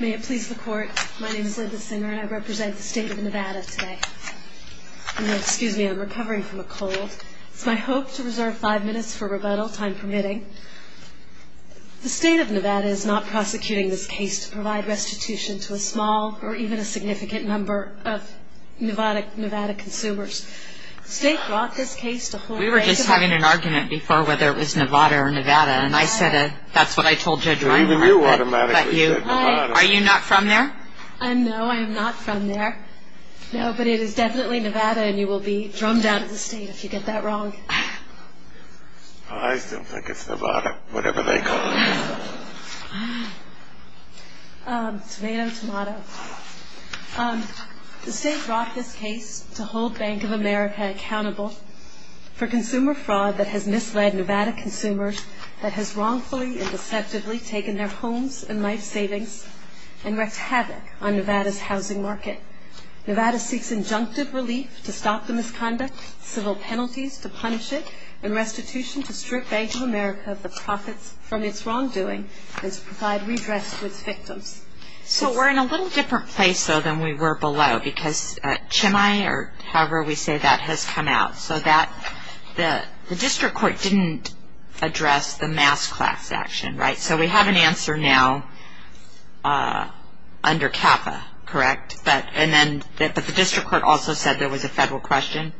May it please the court, my name is Libba Singer and I represent the state of Nevada today. Excuse me, I'm recovering from a cold. It's my hope to reserve five minutes for rebuttal, time permitting. The state of Nevada is not prosecuting this case to provide restitution to a small or even a significant number of Nevada consumers. The state brought this case to hold... That's what I told Judge Ryan. Even you automatically said Nevada. Are you not from there? No, I am not from there. No, but it is definitely Nevada and you will be drummed out of the state if you get that wrong. I still think it's Nevada, whatever they call it. Tomato, tomato. The state brought this case to hold Bank of America accountable for consumer fraud that has misled Nevada consumers that has wrongfully and deceptively taken their homes and life savings and wreaked havoc on Nevada's housing market. Nevada seeks injunctive relief to stop the misconduct, civil penalties to punish it, and restitution to strip Bank of America of the profits from its wrongdoing and to provide redress to its victims. So we're in a little different place though than we were below because Chimay, or however we say that, has come out. So the district court didn't address the mass class action, right? So we have an answer now under CAFA, correct? But the district court also said there was a federal question.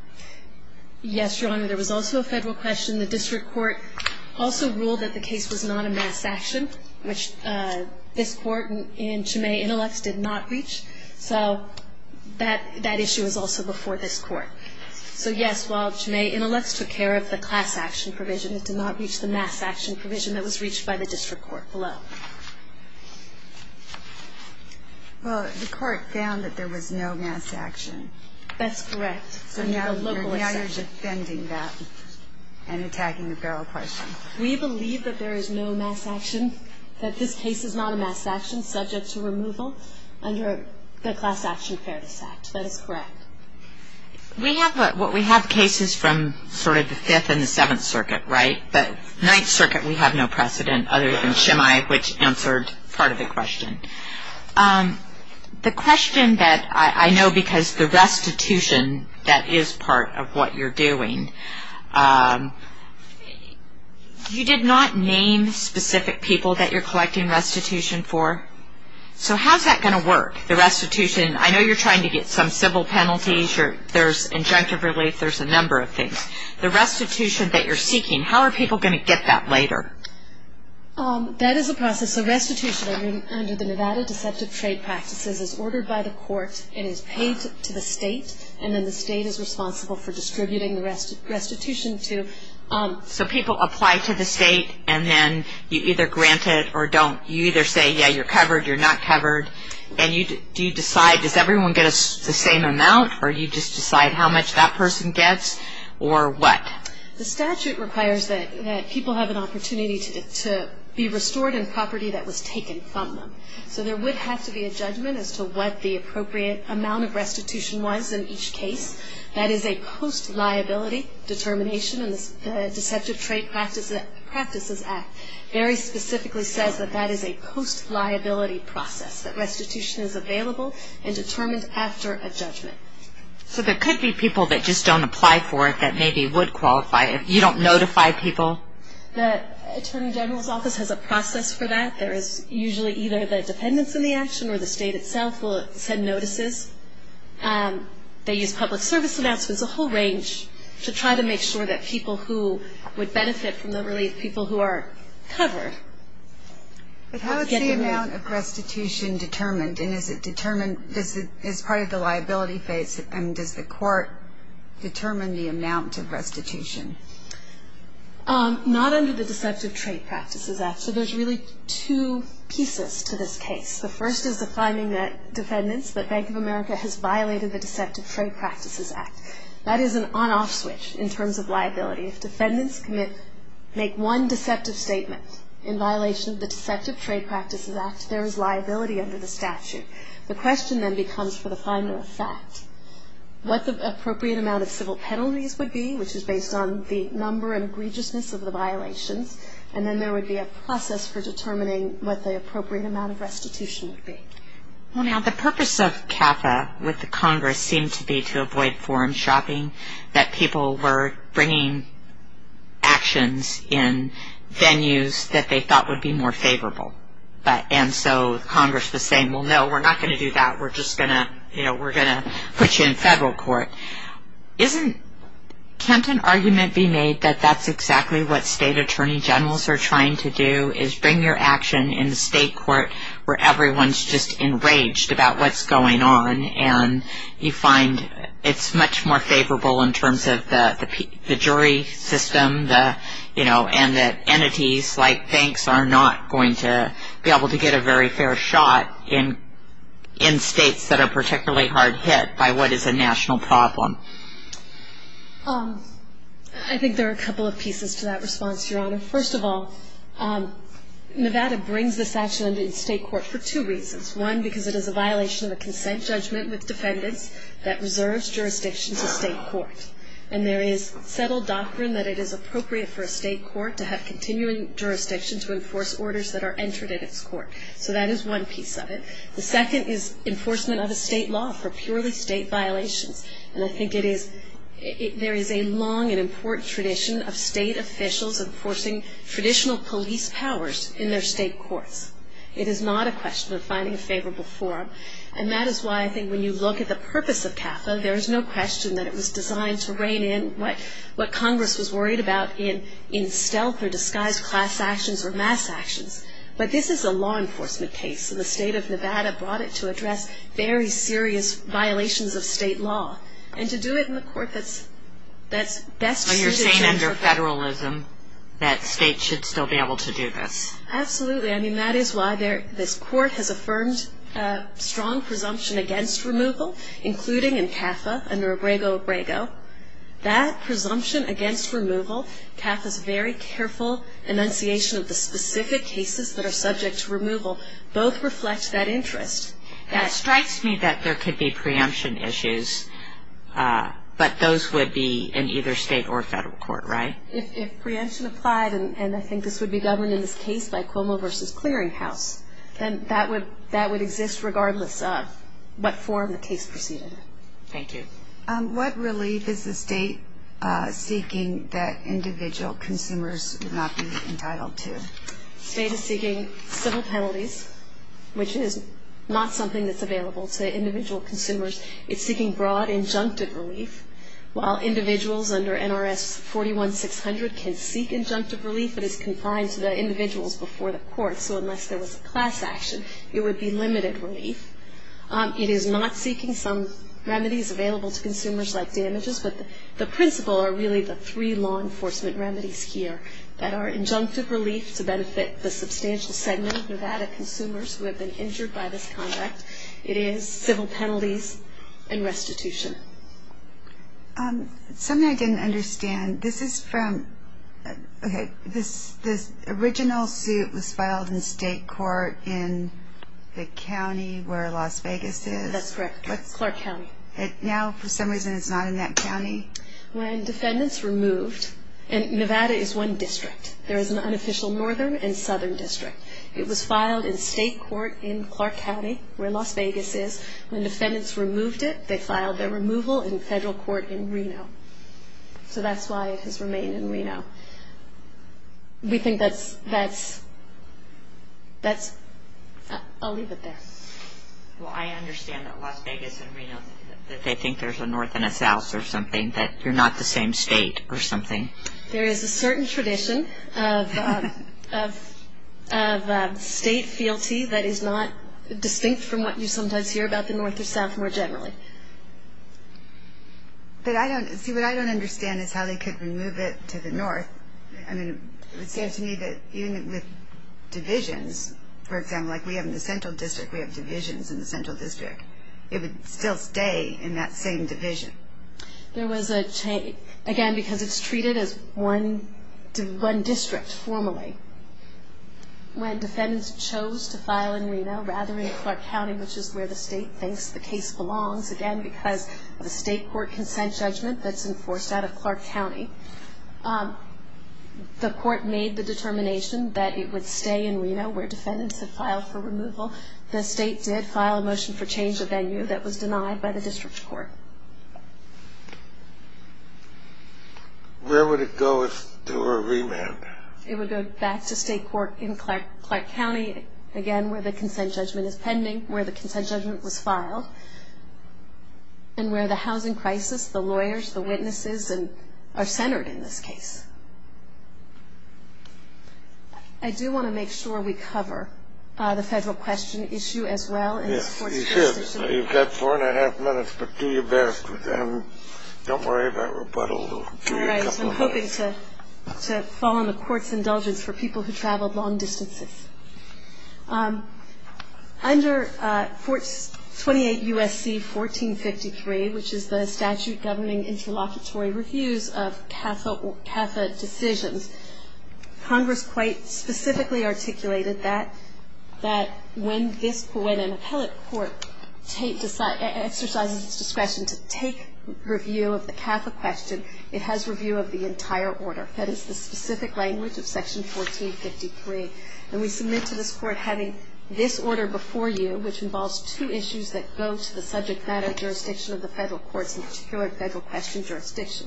Yes, Your Honor, there was also a federal question. The district court also ruled that the case was not a mass action, which this court in Chimay Intellects did not reach. So that issue is also before this court. So yes, while Chimay Intellects took care of the class action provision, it did not reach the mass action provision that was reached by the district court below. Well, the court found that there was no mass action. That's correct. So now you're defending that and attacking a federal question. We believe that there is no mass action, that this case is not a mass action subject to removal under the Class Action Fairness Act. That is correct. We have cases from sort of the Fifth and the Seventh Circuit, right? But Ninth Circuit we have no precedent other than Chimay, which answered part of the question. The question that I know because the restitution that is part of what you're doing, you did not name specific people that you're collecting restitution for. So how is that going to work, the restitution? I know you're trying to get some civil penalties. There's injunctive relief. There's a number of things. The restitution that you're seeking, how are people going to get that later? That is a process. So restitution under the Nevada Deceptive Trade Practices is ordered by the court. It is paid to the state, and then the state is responsible for distributing the restitution to. So people apply to the state, and then you either grant it or don't. You either say, yeah, you're covered, you're not covered, and you decide, does everyone get the same amount or you just decide how much that person gets or what? The statute requires that people have an opportunity to be restored in property that was taken from them. So there would have to be a judgment as to what the appropriate amount of restitution was in each case. That is a post-liability determination in the Deceptive Trade Practices Act. It very specifically says that that is a post-liability process, that restitution is available and determined after a judgment. So there could be people that just don't apply for it that maybe would qualify if you don't notify people? The Attorney General's Office has a process for that. There is usually either the dependents in the action or the state itself will send notices. They use public service announcements, a whole range, to try to make sure that people who would benefit from the relief, people who are covered get the relief. But how is the amount of restitution determined? And is it determined as part of the liability phase? I mean, does the court determine the amount of restitution? Not under the Deceptive Trade Practices Act. So there's really two pieces to this case. The first is the finding that dependents, that Bank of America has violated the Deceptive Trade Practices Act. That is an on-off switch in terms of liability. If dependents make one deceptive statement in violation of the Deceptive Trade Practices Act, there is liability under the statute. The question then becomes for the final effect. What the appropriate amount of civil penalties would be, which is based on the number and egregiousness of the violations, and then there would be a process for determining what the appropriate amount of restitution would be. Well, now, the purpose of CAFA with the Congress seemed to be to avoid foreign shopping, that people were bringing actions in venues that they thought would be more favorable. And so Congress was saying, well, no, we're not going to do that. We're just going to, you know, we're going to put you in federal court. Can't an argument be made that that's exactly what state attorney generals are trying to do, is bring your action in the state court where everyone's just enraged about what's going on, and you find it's much more favorable in terms of the jury system, you know, and that entities like banks are not going to be able to get a very fair shot in states that are particularly hard hit by what is a national problem. I think there are a couple of pieces to that response, Your Honor. First of all, Nevada brings this action in state court for two reasons. One, because it is a violation of a consent judgment with defendants that reserves jurisdiction to state court. And there is settled doctrine that it is appropriate for a state court to have continuing jurisdiction to enforce orders that are entered at its court. So that is one piece of it. The second is enforcement of a state law for purely state violations. And I think it is, there is a long and important tradition of state officials enforcing traditional police powers in their state courts. It is not a question of finding a favorable forum. And that is why I think when you look at the purpose of CAFA, there is no question that it was designed to rein in what Congress was worried about in stealth or disguised class actions or mass actions. But this is a law enforcement case, and the state of Nevada brought it to address very serious violations of state law. And to do it in a court that is best suited to... So you are saying under federalism that states should still be able to do this? Absolutely. I mean, that is why this court has affirmed strong presumption against removal, including in CAFA under Abrego-Abrego. That presumption against removal, CAFA's very careful enunciation of the specific cases that are subject to removal, both reflect that interest. And it strikes me that there could be preemption issues, but those would be in either state or federal court, right? If preemption applied, and I think this would be governed in this case by Cuomo v. Clearinghouse, then that would exist regardless of what form the case proceeded in. Thank you. What relief is the state seeking that individual consumers would not be entitled to? The state is seeking civil penalties, which is not something that's available to individual consumers. It's seeking broad injunctive relief. While individuals under NRS 41600 can seek injunctive relief, it is confined to the individuals before the court, so unless there was a class action, it would be limited relief. It is not seeking some remedies available to consumers like damages, but the principle are really the three law enforcement remedies here that are injunctive relief to benefit the substantial segment of Nevada consumers who have been injured by this conduct. It is civil penalties and restitution. Something I didn't understand, this is from, okay, this original suit was filed in state court in the county where Las Vegas is? That's correct, Clark County. Now, for some reason, it's not in that county? When defendants removed, and Nevada is one district. There is an unofficial northern and southern district. It was filed in state court in Clark County where Las Vegas is. When defendants removed it, they filed their removal in federal court in Reno, so that's why it has remained in Reno. We think that's, I'll leave it there. Well, I understand that Las Vegas and Reno, that they think there's a north and a south or something, that you're not the same state or something. There is a certain tradition of state fealty that is not distinct from what you sometimes hear about the north or south more generally. But I don't, see, what I don't understand is how they could remove it to the north. I mean, it would seem to me that even with divisions, for example, like we have in the central district, we have divisions in the central district. It would still stay in that same division. There was a change, again, because it's treated as one district formally. When defendants chose to file in Reno rather than Clark County, which is where the state thinks the case belongs, again, because of a state court consent judgment that's enforced out of Clark County, the court made the determination that it would stay in Reno where defendants had filed for removal. The state did file a motion for change of venue that was denied by the district court. Where would it go if there were a remand? It would go back to state court in Clark County, again, where the consent judgment is pending, where the consent judgment was filed, and where the housing crisis, the lawyers, the witnesses are centered in this case. I do want to make sure we cover the federal question issue as well. Yes, you should. You've got four and a half minutes, but do your best. Don't worry about rebuttal. All right. I'm hoping to follow the court's indulgence for people who traveled long distances. Under 28 U.S.C. 1453, which is the statute governing interlocutory reviews of CAFA decisions, Congress quite specifically articulated that when an appellate court exercises its discretion to take review of the CAFA question, it has review of the entire order. That is the specific language of Section 1453. And we submit to this court having this order before you, which involves two issues that go to the subject matter jurisdiction of the federal courts, in particular federal question jurisdiction,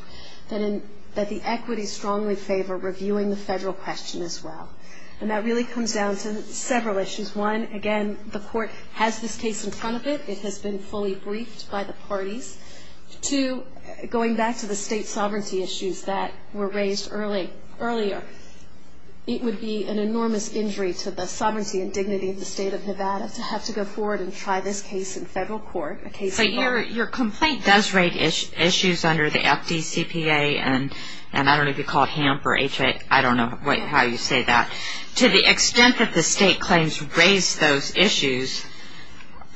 that the equities strongly favor reviewing the federal question as well. And that really comes down to several issues. One, again, the court has this case in front of it. It has been fully briefed by the parties. Two, going back to the state sovereignty issues that were raised earlier, it would be an enormous injury to the sovereignty and dignity of the state of Nevada to have to go forward and try this case in federal court. So your complaint does raise issues under the FDCPA, and I don't know if you call it HAMP or HA, I don't know how you say that. To the extent that the state claims raised those issues,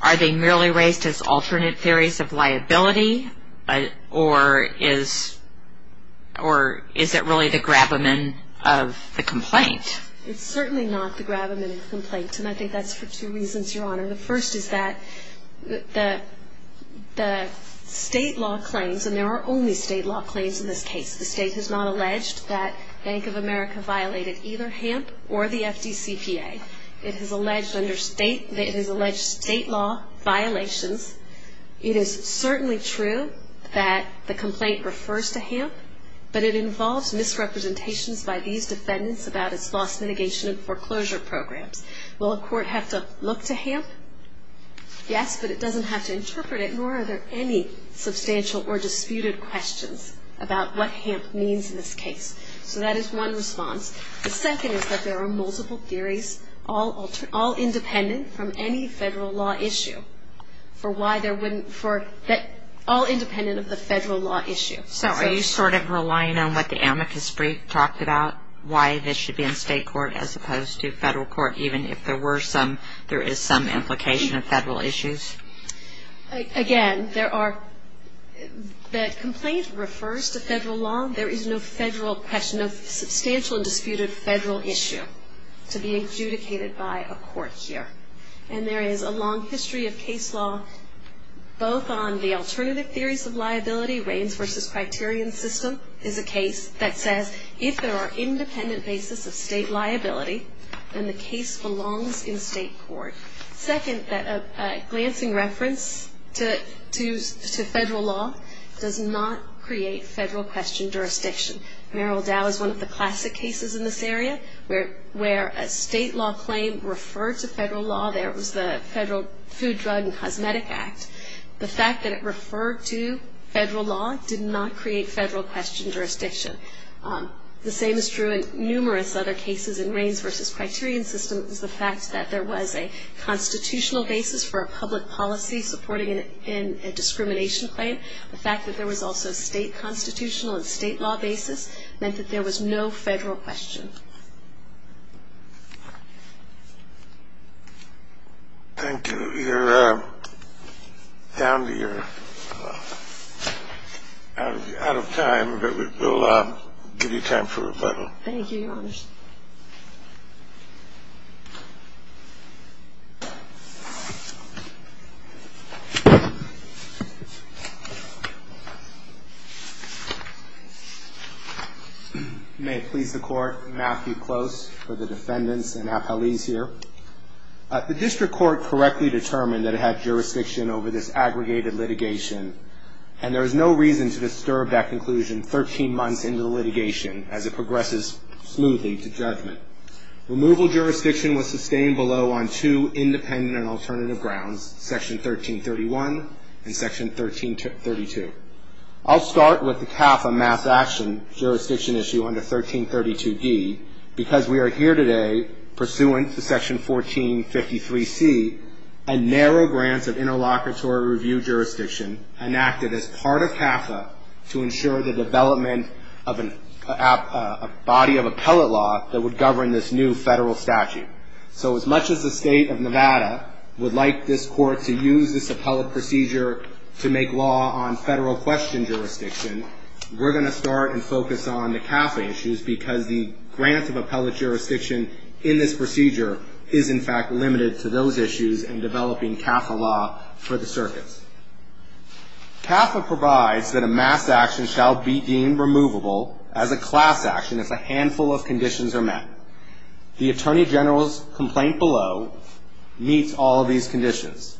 are they merely raised as alternate theories of liability, or is it really the grab-a-man of the complaint? It's certainly not the grab-a-man of the complaint, and I think that's for two reasons, Your Honor. The first is that the state law claims, and there are only state law claims in this case, the state has not alleged that Bank of America violated either HAMP or the FDCPA. It has alleged state law violations. It is certainly true that the complaint refers to HAMP, but it involves misrepresentations by these defendants about its loss mitigation and foreclosure programs. Will a court have to look to HAMP? Yes, but it doesn't have to interpret it, nor are there any substantial or disputed questions about what HAMP means in this case. So that is one response. The second is that there are multiple theories, all independent from any federal law issue. All independent of the federal law issue. So are you sort of relying on what the amicus brief talked about, why this should be in state court as opposed to federal court, even if there is some implication of federal issues? Again, the complaint refers to federal law. There is no federal question, no substantial and disputed federal issue to be adjudicated by a court here. And there is a long history of case law, both on the alternative theories of liability, Reins versus Criterion system, is a case that says if there are independent basis of state liability, then the case belongs in state court. Second, that a glancing reference to federal law does not create federal question jurisdiction. Merrill Dow is one of the classic cases in this area where a state law claim referred to federal law. There was the Federal Food, Drug, and Cosmetic Act. The fact that it referred to federal law did not create federal question jurisdiction. The same is true in numerous other cases in Reins versus Criterion system is the fact that there was a constitutional basis for a public policy supporting a discrimination claim. The fact that there was also state constitutional and state law basis meant that there was no federal question. Thank you. You're down to your out of time, but we'll give you time for rebuttal. Thank you, Your Honor. May it please the Court, Matthew Close for the defendants and appellees here. The district court correctly determined that it had jurisdiction over this aggregated litigation, and there is no reason to disturb that conclusion 13 months into the litigation as it progresses smoothly. Removal jurisdiction was sustained below on two independent and alternative grounds, Section 1331 and Section 1332. I'll start with the CAFA mass action jurisdiction issue under 1332D because we are here today pursuant to Section 1453C, and narrow grants of interlocutory review jurisdiction enacted as part of CAFA to ensure the development of a body of appellate law that would govern this new federal statute. So as much as the state of Nevada would like this court to use this appellate procedure to make law on federal question jurisdiction, we're going to start and focus on the CAFA issues because the grant of appellate jurisdiction in this procedure is, in fact, limited to those issues and developing CAFA law for the circuits. CAFA provides that a mass action shall be deemed removable as a class action if a handful of conditions are met. The Attorney General's complaint below meets all of these conditions.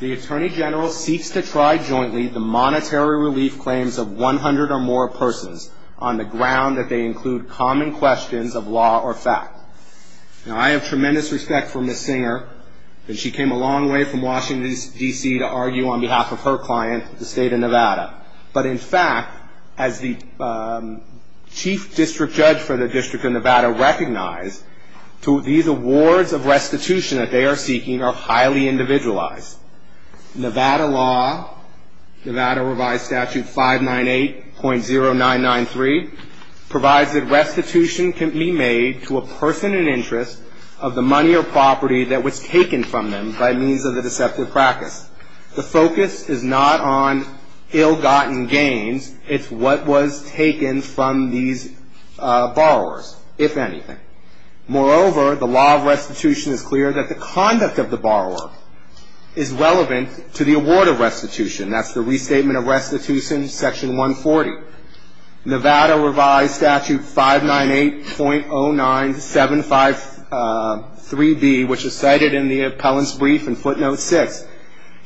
The Attorney General seeks to try jointly the monetary relief claims of 100 or more persons on the ground that they include common questions of law or fact. Now, I have tremendous respect for Ms. Singer, and she came a long way from Washington, D.C., to argue on behalf of her client, the state of Nevada. But in fact, as the chief district judge for the District of Nevada recognized, these awards of restitution that they are seeking are highly individualized. Nevada law, Nevada revised statute 598.0993, provides that restitution can be made to a person in interest of the money or property that was taken from them by means of the deceptive practice. The focus is not on ill-gotten gains. It's what was taken from these borrowers, if anything. Moreover, the law of restitution is clear that the conduct of the borrower is relevant to the award of restitution. That's the restatement of restitution, section 140. Nevada revised statute 598.09753B, which is cited in the appellant's brief in footnote 6,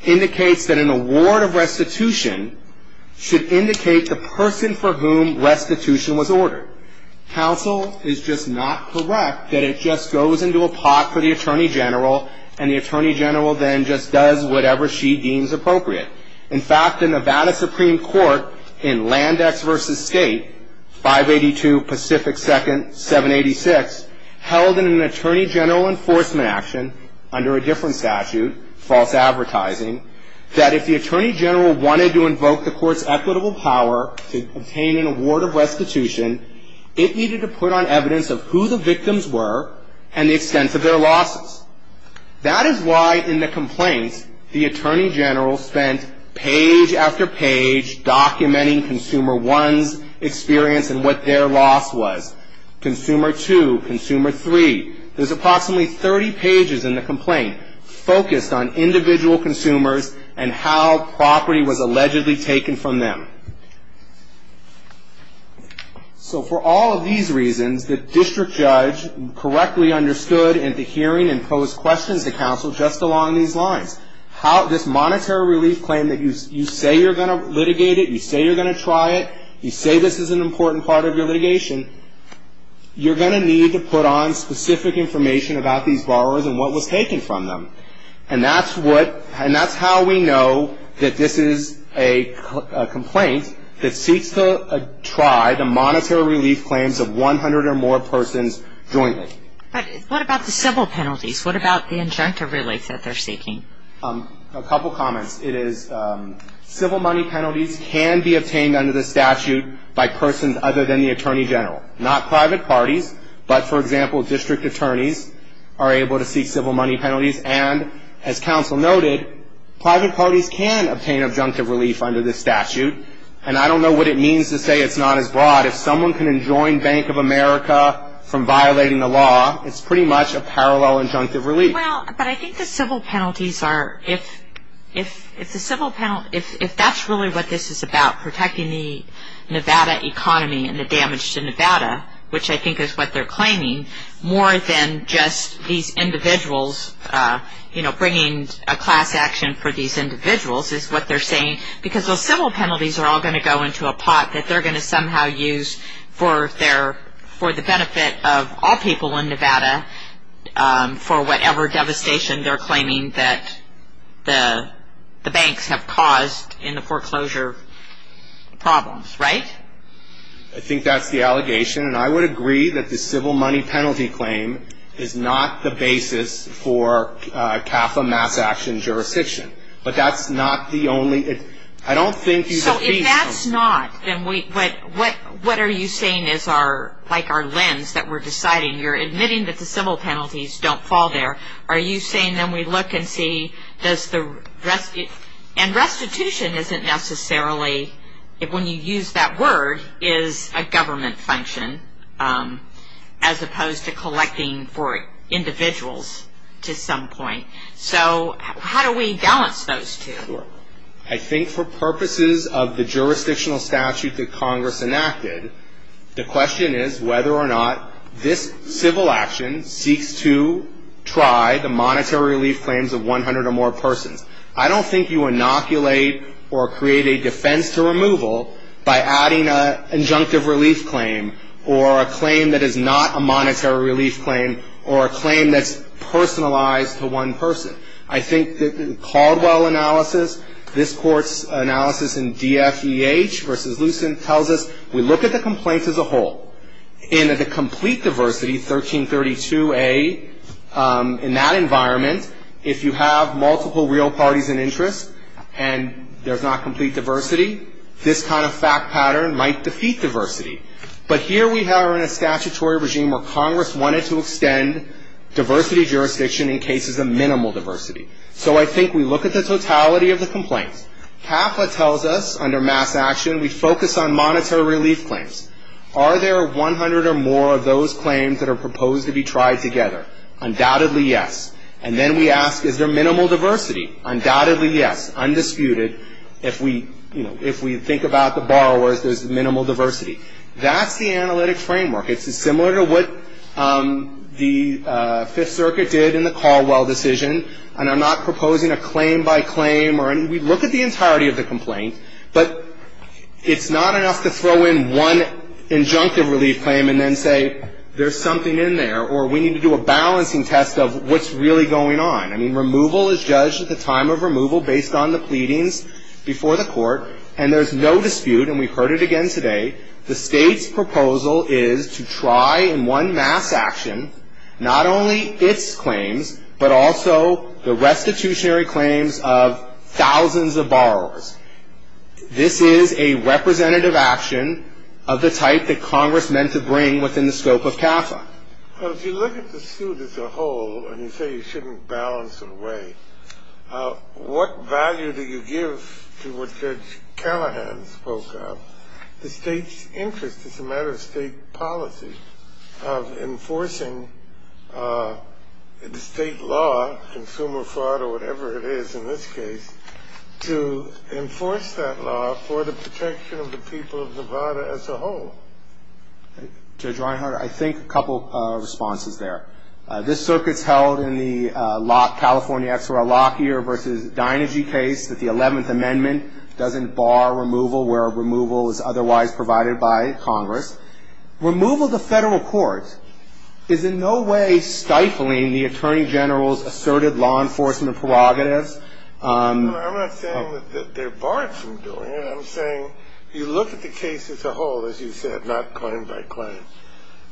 indicates that an award of restitution should indicate the person for whom restitution was ordered. Counsel is just not correct that it just goes into a pot for the attorney general, and the attorney general then just does whatever she deems appropriate. In fact, the Nevada Supreme Court in Landex v. State, 582 Pacific 2nd, 786, held in an attorney general enforcement action under a different statute, false advertising, that if the attorney general wanted to invoke the court's equitable power to obtain an award of restitution, it needed to put on evidence of who the victims were and the extent of their losses. That is why in the complaint, the attorney general spent page after page documenting Consumer 1's experience and what their loss was. Consumer 2, Consumer 3, there's approximately 30 pages in the complaint focused on individual consumers and how property was allegedly taken from them. So for all of these reasons, the district judge correctly understood and the hearing imposed questions to counsel just along these lines. This monetary relief claim that you say you're going to litigate it, you say you're going to try it, you say this is an important part of your litigation, you're going to need to put on specific information about these borrowers and what was taken from them. And that's what, and that's how we know that this is a complaint that seeks to try the monetary relief claims of 100 or more persons jointly. But what about the civil penalties? What about the injunctive relief that they're seeking? A couple comments. It is civil money penalties can be obtained under the statute by persons other than the attorney general. Not private parties, but for example, district attorneys are able to seek civil money penalties. And as counsel noted, private parties can obtain injunctive relief under this statute. And I don't know what it means to say it's not as broad. If someone can enjoin Bank of America from violating the law, it's pretty much a parallel injunctive relief. Well, but I think the civil penalties are, if the civil penalty, if that's really what this is about, protecting the Nevada economy and the damage to Nevada, which I think is what they're claiming, more than just these individuals, you know, bringing a class action for these individuals is what they're saying. Because those civil penalties are all going to go into a pot that they're going to somehow use for their, for the benefit of all people in Nevada, for whatever devastation they're claiming that the banks have caused in the foreclosure problems, right? I think that's the allegation. And I would agree that the civil money penalty claim is not the basis for CAFA mass action jurisdiction. But that's not the only, I don't think you defeat... If it's not, then we, what are you saying is our, like our lens that we're deciding? You're admitting that the civil penalties don't fall there. Are you saying then we look and see, does the rest, and restitution isn't necessarily, when you use that word, is a government function as opposed to collecting for individuals to some point. So how do we balance those two? I think for purposes of the jurisdictional statute that Congress enacted, the question is whether or not this civil action seeks to try the monetary relief claims of 100 or more persons. I don't think you inoculate or create a defense to removal by adding an injunctive relief claim or a claim that is not a monetary relief claim or a claim that's personalized to one person. I think that the Caldwell analysis, this court's analysis in DFEH versus Lucent tells us we look at the complaints as a whole. In the complete diversity, 1332A, in that environment, if you have multiple real parties in interest and there's not complete diversity, this kind of fact pattern might defeat diversity. But here we are in a statutory regime where Congress wanted to extend diversity jurisdiction in cases of minimal diversity. So I think we look at the totality of the complaints. CAFLA tells us under mass action, we focus on monetary relief claims. Are there 100 or more of those claims that are proposed to be tried together? Undoubtedly yes. And then we ask, is there minimal diversity? Undoubtedly yes, undisputed. If we think about the borrowers, there's minimal diversity. That's the analytic framework. It's similar to what the Fifth Circuit did in the Caldwell decision. And I'm not proposing a claim by claim. We look at the entirety of the complaint. But it's not enough to throw in one injunctive relief claim and then say there's something in there or we need to do a balancing test of what's really going on. I mean, removal is judged at the time of removal based on the pleadings before the court. And there's no dispute, and we've heard it again today, the State's proposal is to try in one mass action not only its claims, but also the restitutionary claims of thousands of borrowers. This is a representative action of the type that Congress meant to bring within the scope of CAFA. Well, if you look at the suit as a whole, and you say you shouldn't balance it away, what value do you give to what Judge Callahan spoke of? The State's interest is a matter of State policy of enforcing the State law, consumer fraud or whatever it is in this case, to enforce that law for the protection of the people of Nevada as a whole. Judge Reinhart, I think a couple of responses there. This circuit's held in the California XLR Lockhear versus Deinergy case that the 11th Amendment doesn't bar removal where removal is otherwise provided by Congress. Removal to federal court is in no way stifling the Attorney General's asserted law enforcement prerogatives. No, I'm not saying that they're barred from doing it. I'm saying you look at the case as a whole, as you said, not claim by claim,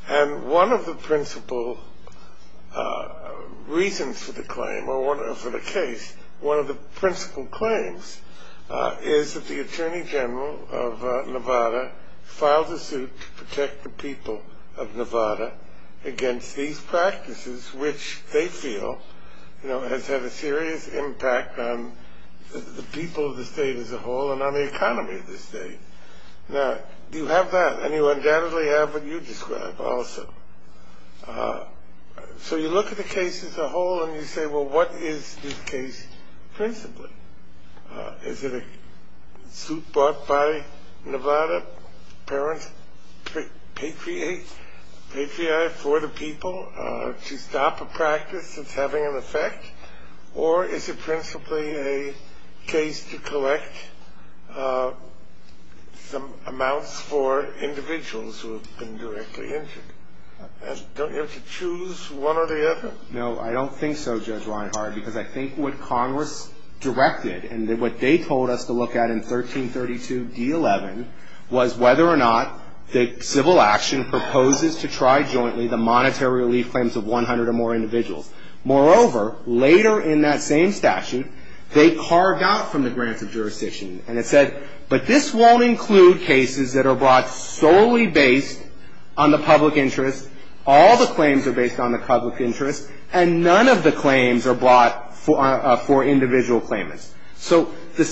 and one of the principal reasons for the claim, or for the case, one of the principal claims is that the Attorney General of Nevada filed a suit to protect the people of Nevada against these practices, which they feel has had a serious impact on the people of the State as a whole and on the economy of the State. Now, do you have that? And you undoubtedly have what you describe also. So you look at the case as a whole and you say, well, what is this case principally? Is it a suit brought by Nevada to help parents patriotize for the people to stop a practice that's having an effect? Or is it principally a case to collect some amounts for individuals who have been directly injured? And don't you have to choose one or the other? No, I don't think so, Judge Reinhart, because I think what Congress directed and what they told us to look at in 1332 D-11 was whether or not the civil action proposes to try jointly the monetary relief claims of 100 or more individuals. Moreover, later in that same statute, they carved out from the grants of jurisdiction and it said, but this won't include cases that are brought solely based on the public interest. All the claims are based on the public interest and none of the claims are brought for individual claimants. So the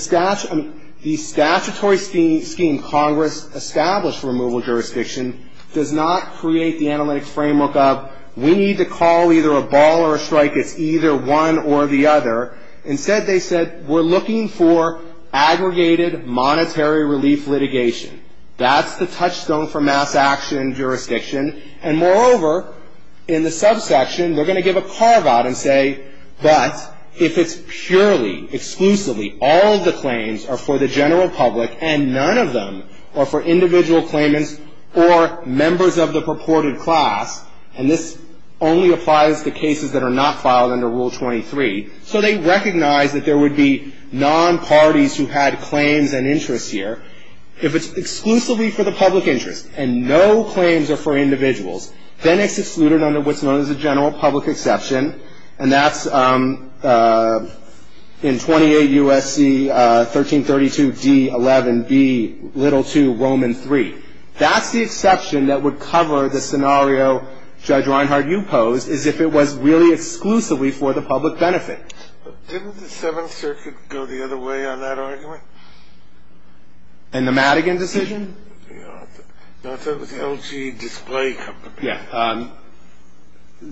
statutory scheme Congress established for removal of jurisdiction does not create the analytic framework of we need to call either a ball or a strike. It's either one or the other. Instead, they said, we're looking for aggregated monetary relief litigation. That's the touchstone for mass action jurisdiction. And moreover, in the subsection, they're going to give a carve out and say, but if it's purely, exclusively, all of the claims are for the general public and none of them are for individual claimants or members of the purported class, and this only applies to cases that are not filed under Rule 23, so they recognize that there would be non-parties who had claims and interests here. If it's exclusively for the public interest and no claims are for individuals, then it's excluded under what's known as a general public exception, and that's in 28 U.S.C. 1332d11, B, little 2, Roman 3. That's the exception that would cover the scenario, Judge Reinhard, you pose, is if it was really exclusively for the public benefit. Didn't the Seventh Circuit go the other way on that argument? In the Madigan decision? No, I thought it was the LG Display Company. Yeah.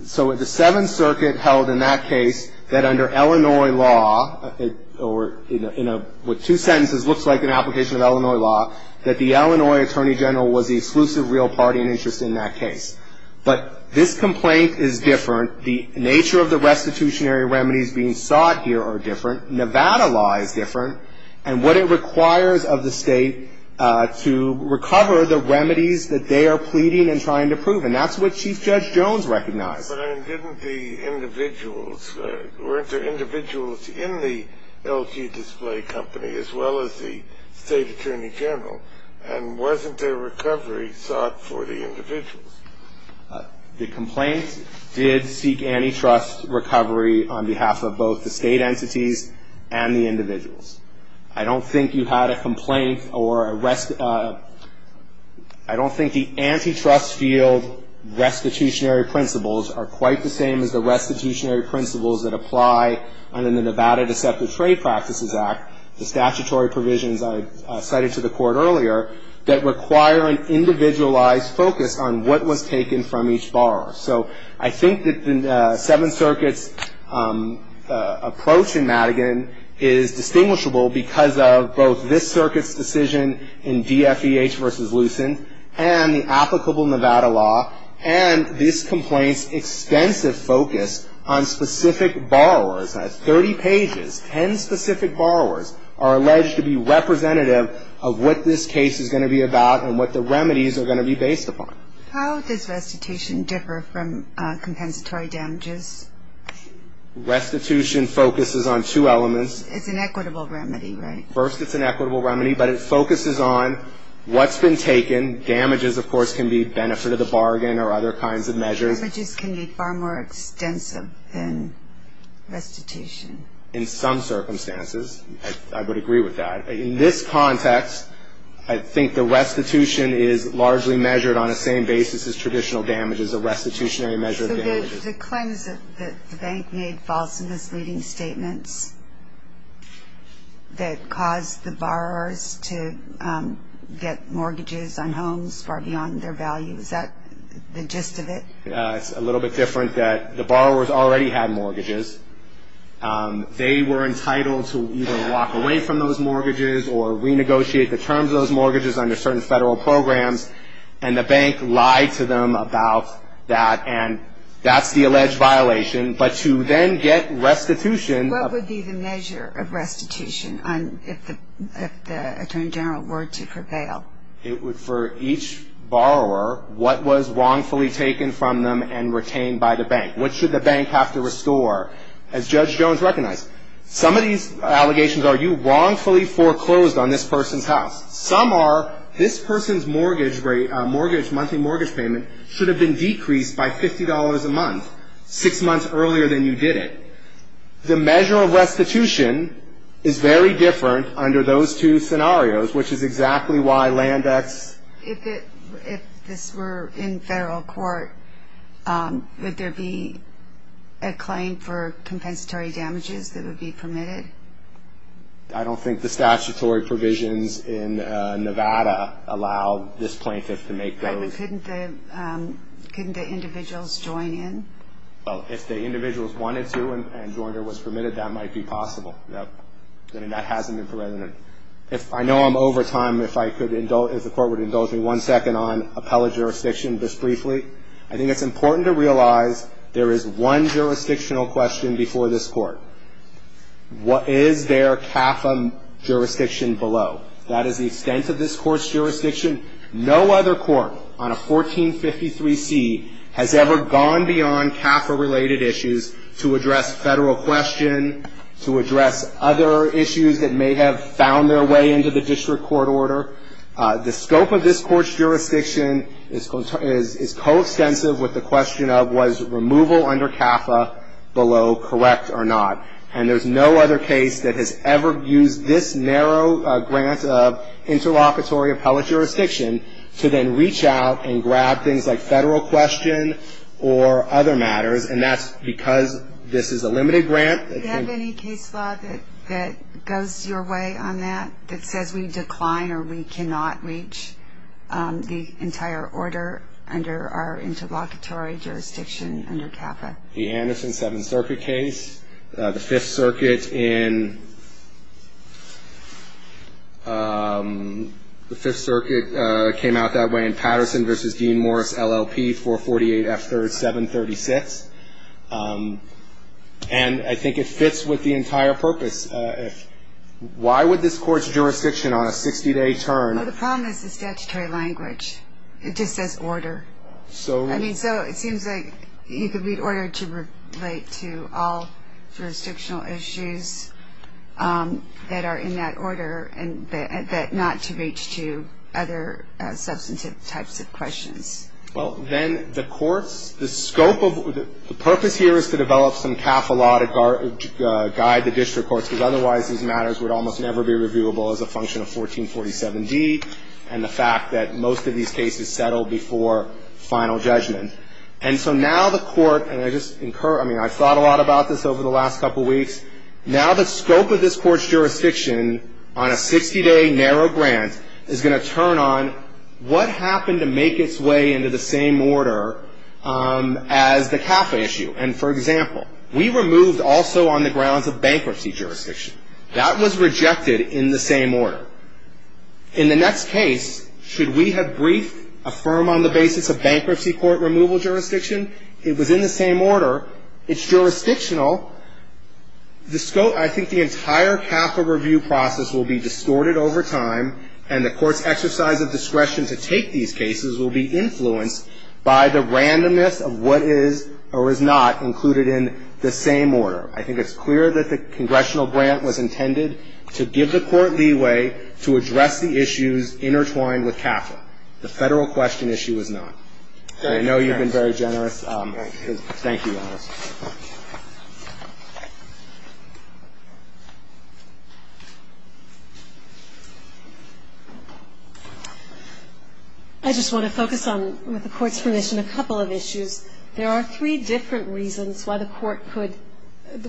So the Seventh Circuit held in that case that under Illinois law, or in what two sentences looks like an application of Illinois law, that the Illinois Attorney General was the exclusive real party and interest in that case, but this complaint is different. The nature of the restitutionary remedies being sought here are different. Nevada law is different, and what it requires of the state to recover the remedies that they are pleading and trying to prove, and that's what Chief Judge Jones recognized. But, I mean, didn't the individuals, weren't there individuals in the LG Display Company, as well as the State Attorney General, and wasn't there recovery sought for the individuals? The complaint did seek antitrust recovery on behalf of both the state entities and the individuals. I don't think you had a complaint or a rest, I don't think the antitrust field restitutionary principles are quite the same as the restitutionary principles that apply under the Nevada Deceptive Trade Practices Act, the statutory provisions I cited to the court earlier, that require an individualized focus on what was taken from each borrower. So, I think that the Seven Circuits approach in Madigan is distinguishable because of both this circuit's decision in DFEH versus Lucent, and the applicable Nevada law, and this complaint's extensive focus on specific borrowers. At 30 pages, 10 specific borrowers are alleged to be representative of what this case is going to be about and what the remedies are going to be based upon. How does restitution differ from compensatory damages? Restitution focuses on two elements. It's an equitable remedy, right? First, it's an equitable remedy, but it focuses on what's been taken. Damages, of course, can be benefit of the bargain or other kinds of measures. Damages can be far more extensive than restitution. In some circumstances, I would agree with that. In this context, I think the restitution is largely measured on a same basis as traditional damages, a restitutionary measure of damages. So, the claims that the bank made false and misleading statements that caused the borrowers to get mortgages on homes far beyond their value, is that the gist of it? It's a little bit different that the borrowers already had mortgages. They were entitled to either walk away from those mortgages or renegotiate the terms of those mortgages under certain federal programs. And the bank lied to them about that and that's the alleged violation. But to then get restitution... What would be the measure of restitution if the Attorney General were to prevail? For each borrower, what was wrongfully taken from them and retained by the bank? What should the bank have to restore? As Judge Jones recognized, some of these allegations are you wrongfully foreclosed on this person's house. Some are, this person's monthly mortgage payment should have been decreased by $50 a month, six months earlier than you did it. The measure of restitution is very different under those two scenarios, which is exactly why Landex... If this were in federal court, would there be a claim for compensatory damages that would be permitted? I don't think the statutory provisions in Nevada allow this plaintiff to make those... Couldn't the individuals join in? If the individuals wanted to and joined or was permitted, that might be possible. That hasn't been permitted. If I know I'm over time, one second on appellate jurisdiction just briefly. I think it's important to realize there is one jurisdictional question before this court. What is their CAFA jurisdiction below? That is the extent of this court's jurisdiction. No other court on a 1453C has ever gone beyond CAFA-related issues to address federal question, to address other issues that may have found their way into the district court order. The scope of this court's jurisdiction is coextensive with the question of was removal under CAFA below correct or not? And there's no other case that has ever used this narrow grant of interlocutory appellate jurisdiction to then reach out and grab things like federal question or other matters, and that's because this is a limited grant. Do you have any case law that goes your way on that that says we decline or we cannot reach the entire order under our interlocutory jurisdiction under CAFA? The Anderson 7th Circuit case. The 5th Circuit in... The 5th Circuit came out that way in Patterson v. Dean-Morris, LLP, 448F3rd, 736. And I think it fits with the entire purpose. Why would this court's jurisdiction on a 60-day term... Well, the problem is the statutory language. It just says order. I mean, so it seems like you could read order to relate to all jurisdictional issues that are in that order and not to reach to other substantive types of questions. Well, then the courts, the scope of... The purpose here is to develop some CAFA law to guide the district courts because otherwise these matters would almost never be reviewable as a function of 1447D and the fact that most of these cases settle before final judgment. And so now the court... And I just incur... I mean, I've thought a lot about this over the last couple weeks. Now the scope of this court's jurisdiction on a 60-day narrow grant is going to turn on what happened to make its way into the same order as the CAFA issue. That was rejected in the same order. In the next case, should we have briefed a firm on the basis of bankruptcy court removal jurisdiction? It was in the same order. It's jurisdictional. The scope... I think the entire CAFA review process will be distorted over time and the court's exercise of discretion to take these cases will be influenced by the randomness of what is or is not included in the same order. I think it's clear that the congressional grant was intended to give the court leeway to address the issues intertwined with CAFA. The federal question issue is not. I know you've been very generous. Thank you. I just want to focus on, with the court's permission, a couple of issues. There are three different reasons why the court could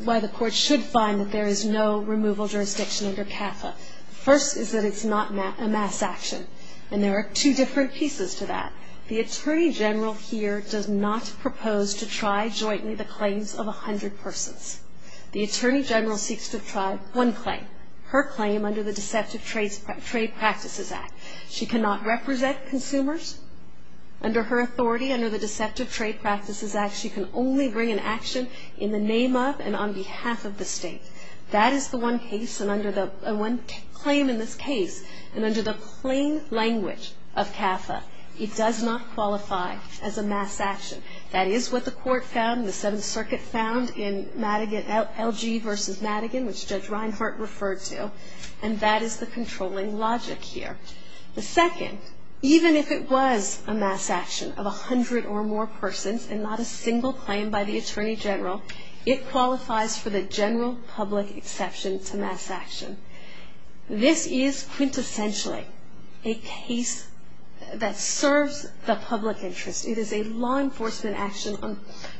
why the court should find that there is no removal jurisdiction under CAFA. First is that it's not a mass action. There are two different pieces to that. The Attorney General here does not propose to try jointly the claims of 100 persons. The Attorney General seeks to try one claim. Her claim under the Deceptive Trade Practices Act. She cannot represent consumers. Under her authority, under the Deceptive Trade Practices Act, she can only bring an action in the name of and on behalf of the state. That is the one case and one claim in this case. And under the plain language of CAFA, it does not qualify as a mass action. That is what the court found and the Seventh Circuit found in LG v. Madigan, which Judge Reinhart referred to. And that is the controlling logic here. The second, even if it was a mass action of 100 or more persons and not a single claim by the Attorney General, it qualifies for the general public exception to mass action. This is quintessentially a case that serves the public interest. It is a law enforcement action on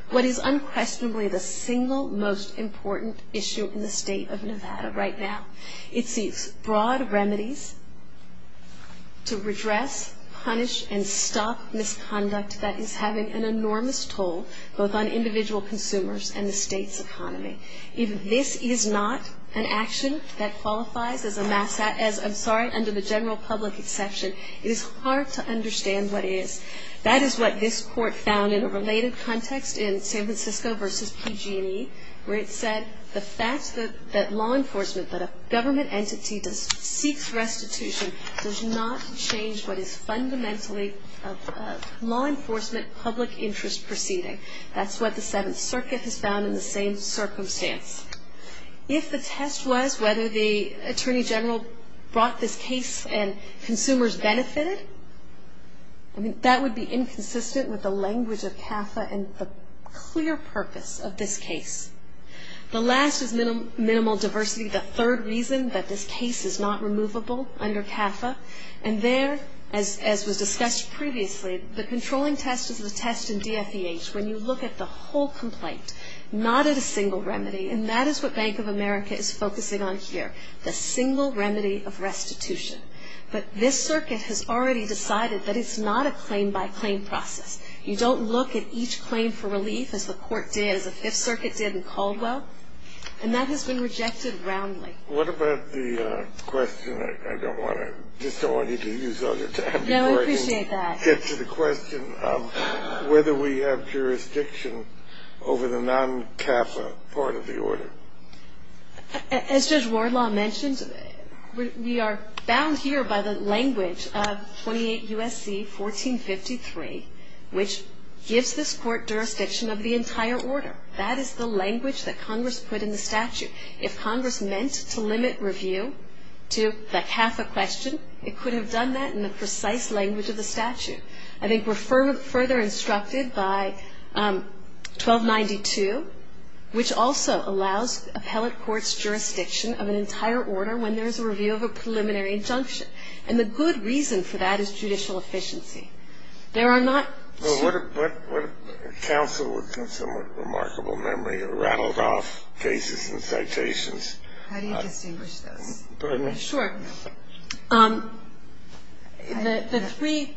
what is unquestionably the single most important issue in the state of Nevada right now. It seeks broad remedies to redress, punish, and stop misconduct that is having an enormous toll both on individual consumers and the state's economy. If this is not an action that qualifies as a mass action, I'm sorry, under the general public exception, it is hard to understand what it is. That is what this court found in a related context in San Francisco v. PG&E where it said the fact that law enforcement, that a government entity seeks restitution does not change what is fundamentally a law enforcement public interest proceeding. That is what the Seventh Circuit has found in the same circumstance. If the test was whether the Attorney General brought this case and consumers benefited, that would be inconsistent with the language of CAFA and the clear purpose of this case. The last is minimal diversity, the third reason that this case is not removable under CAFA, and there, as was discussed previously, the controlling test is the test in DFEH when you look at the whole complaint, not at a single remedy, and that is what Bank of America is focusing on here, the single remedy of restitution. But this circuit has already decided that it is not a claim-by-claim process. You don't have to look at each claim for relief as the court did, as the Fifth Circuit did in Caldwell, and that has been rejected roundly. What about the question, I don't want you to use all your time before I can get to the question of whether we have jurisdiction over the entire order. That is the language that Congress put in the statute. If Congress meant to limit review to like half a question, it could have done that in the precise language of the statute. I think we're further instructed by 1292, which also allows appellate courts jurisdiction of an entire order. don't know what with somewhat remarkable memory rattled off cases and citations. How do you distinguish those? Sure. The three,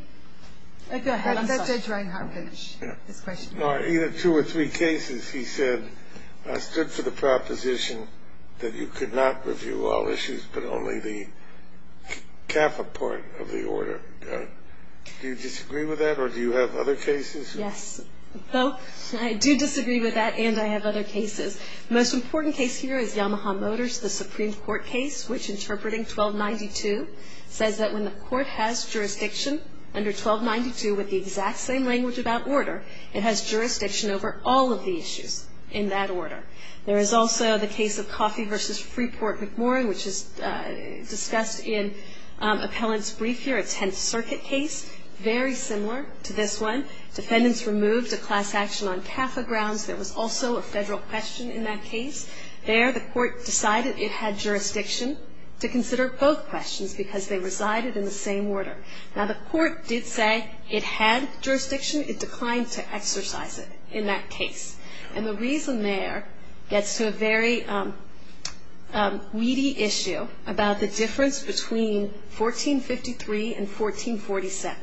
go ahead Judge Ryan. Either two or three cases he said I stood for the proposition that you could not review all issues but only the CAFA part of the order. Do you disagree with that or do you have other cases? Yes. I do disagree with that and I have other cases. The most important case here is Yamaha Motors, the Supreme Court case which interpreting 1292, says that when the court has jurisdiction under 1292 with the exact same language about order, it has jurisdiction over all of the issues in that order. There is also the case of Coffey v. Freeport McMorrin which is discussed in appellant's brief here, the court decided it had jurisdiction to consider both questions because they resided in the same order. Now the court did say it had jurisdiction, it declined to exercise it in that case. And the reason there gets to a very weedy issue about the order in 1447.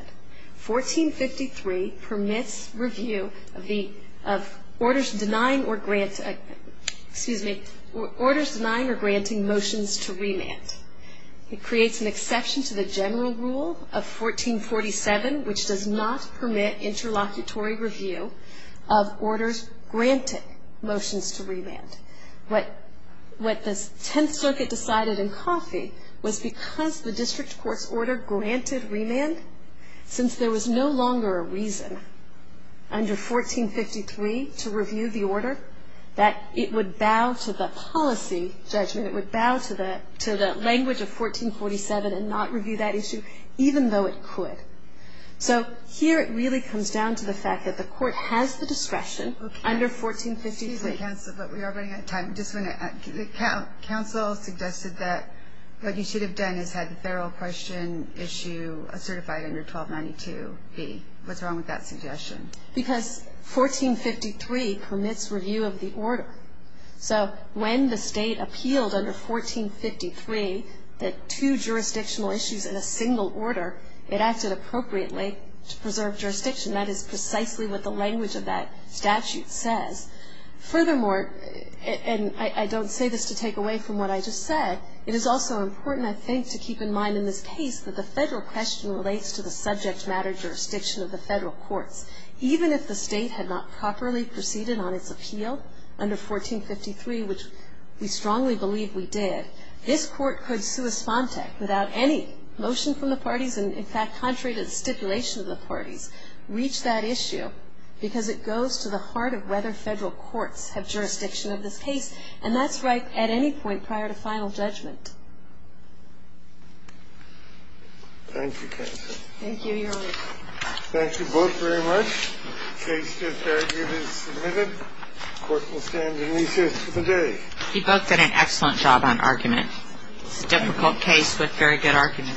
1453 permits review of orders denying or granting motions to remand. It creates an exception to the general rule of 1447 which does not permit interlocutory review of orders granting motions to remand since there was no longer a reason under 1453 to review the order that it would bow to the policy judgment, it would bow to the language of 1447 and not review that issue even though it could. So here it really comes down to the fact that the court has the discretion 1453. Excuse me, counsel, but we are running out of time. The counsel suggested that what you should have done is had the federal question issue certified under 1292B. What's wrong with that suggestion? Because 1453 permits review of the order. So when the state appealed under 1453 that two jurisdictional issues in a single order, it acted appropriately to preserve jurisdiction. That is precisely what the language of that statute says. Furthermore, and I don't say this to take away from what I just said, it is also important, I think, to keep in mind in this case that the federal question relates to the subject matter jurisdiction of the federal courts. Even if the state had not properly proceeded on its appeal under 1453, which we strongly believe federal court should have the final judgment. Thank you, counsel. Thank you, your Honor. Thank you both very much. The case to the fair argument is submitted. The court will stand in recess for the day. He both did an excellent job on argument. It's a difficult case with very good argument.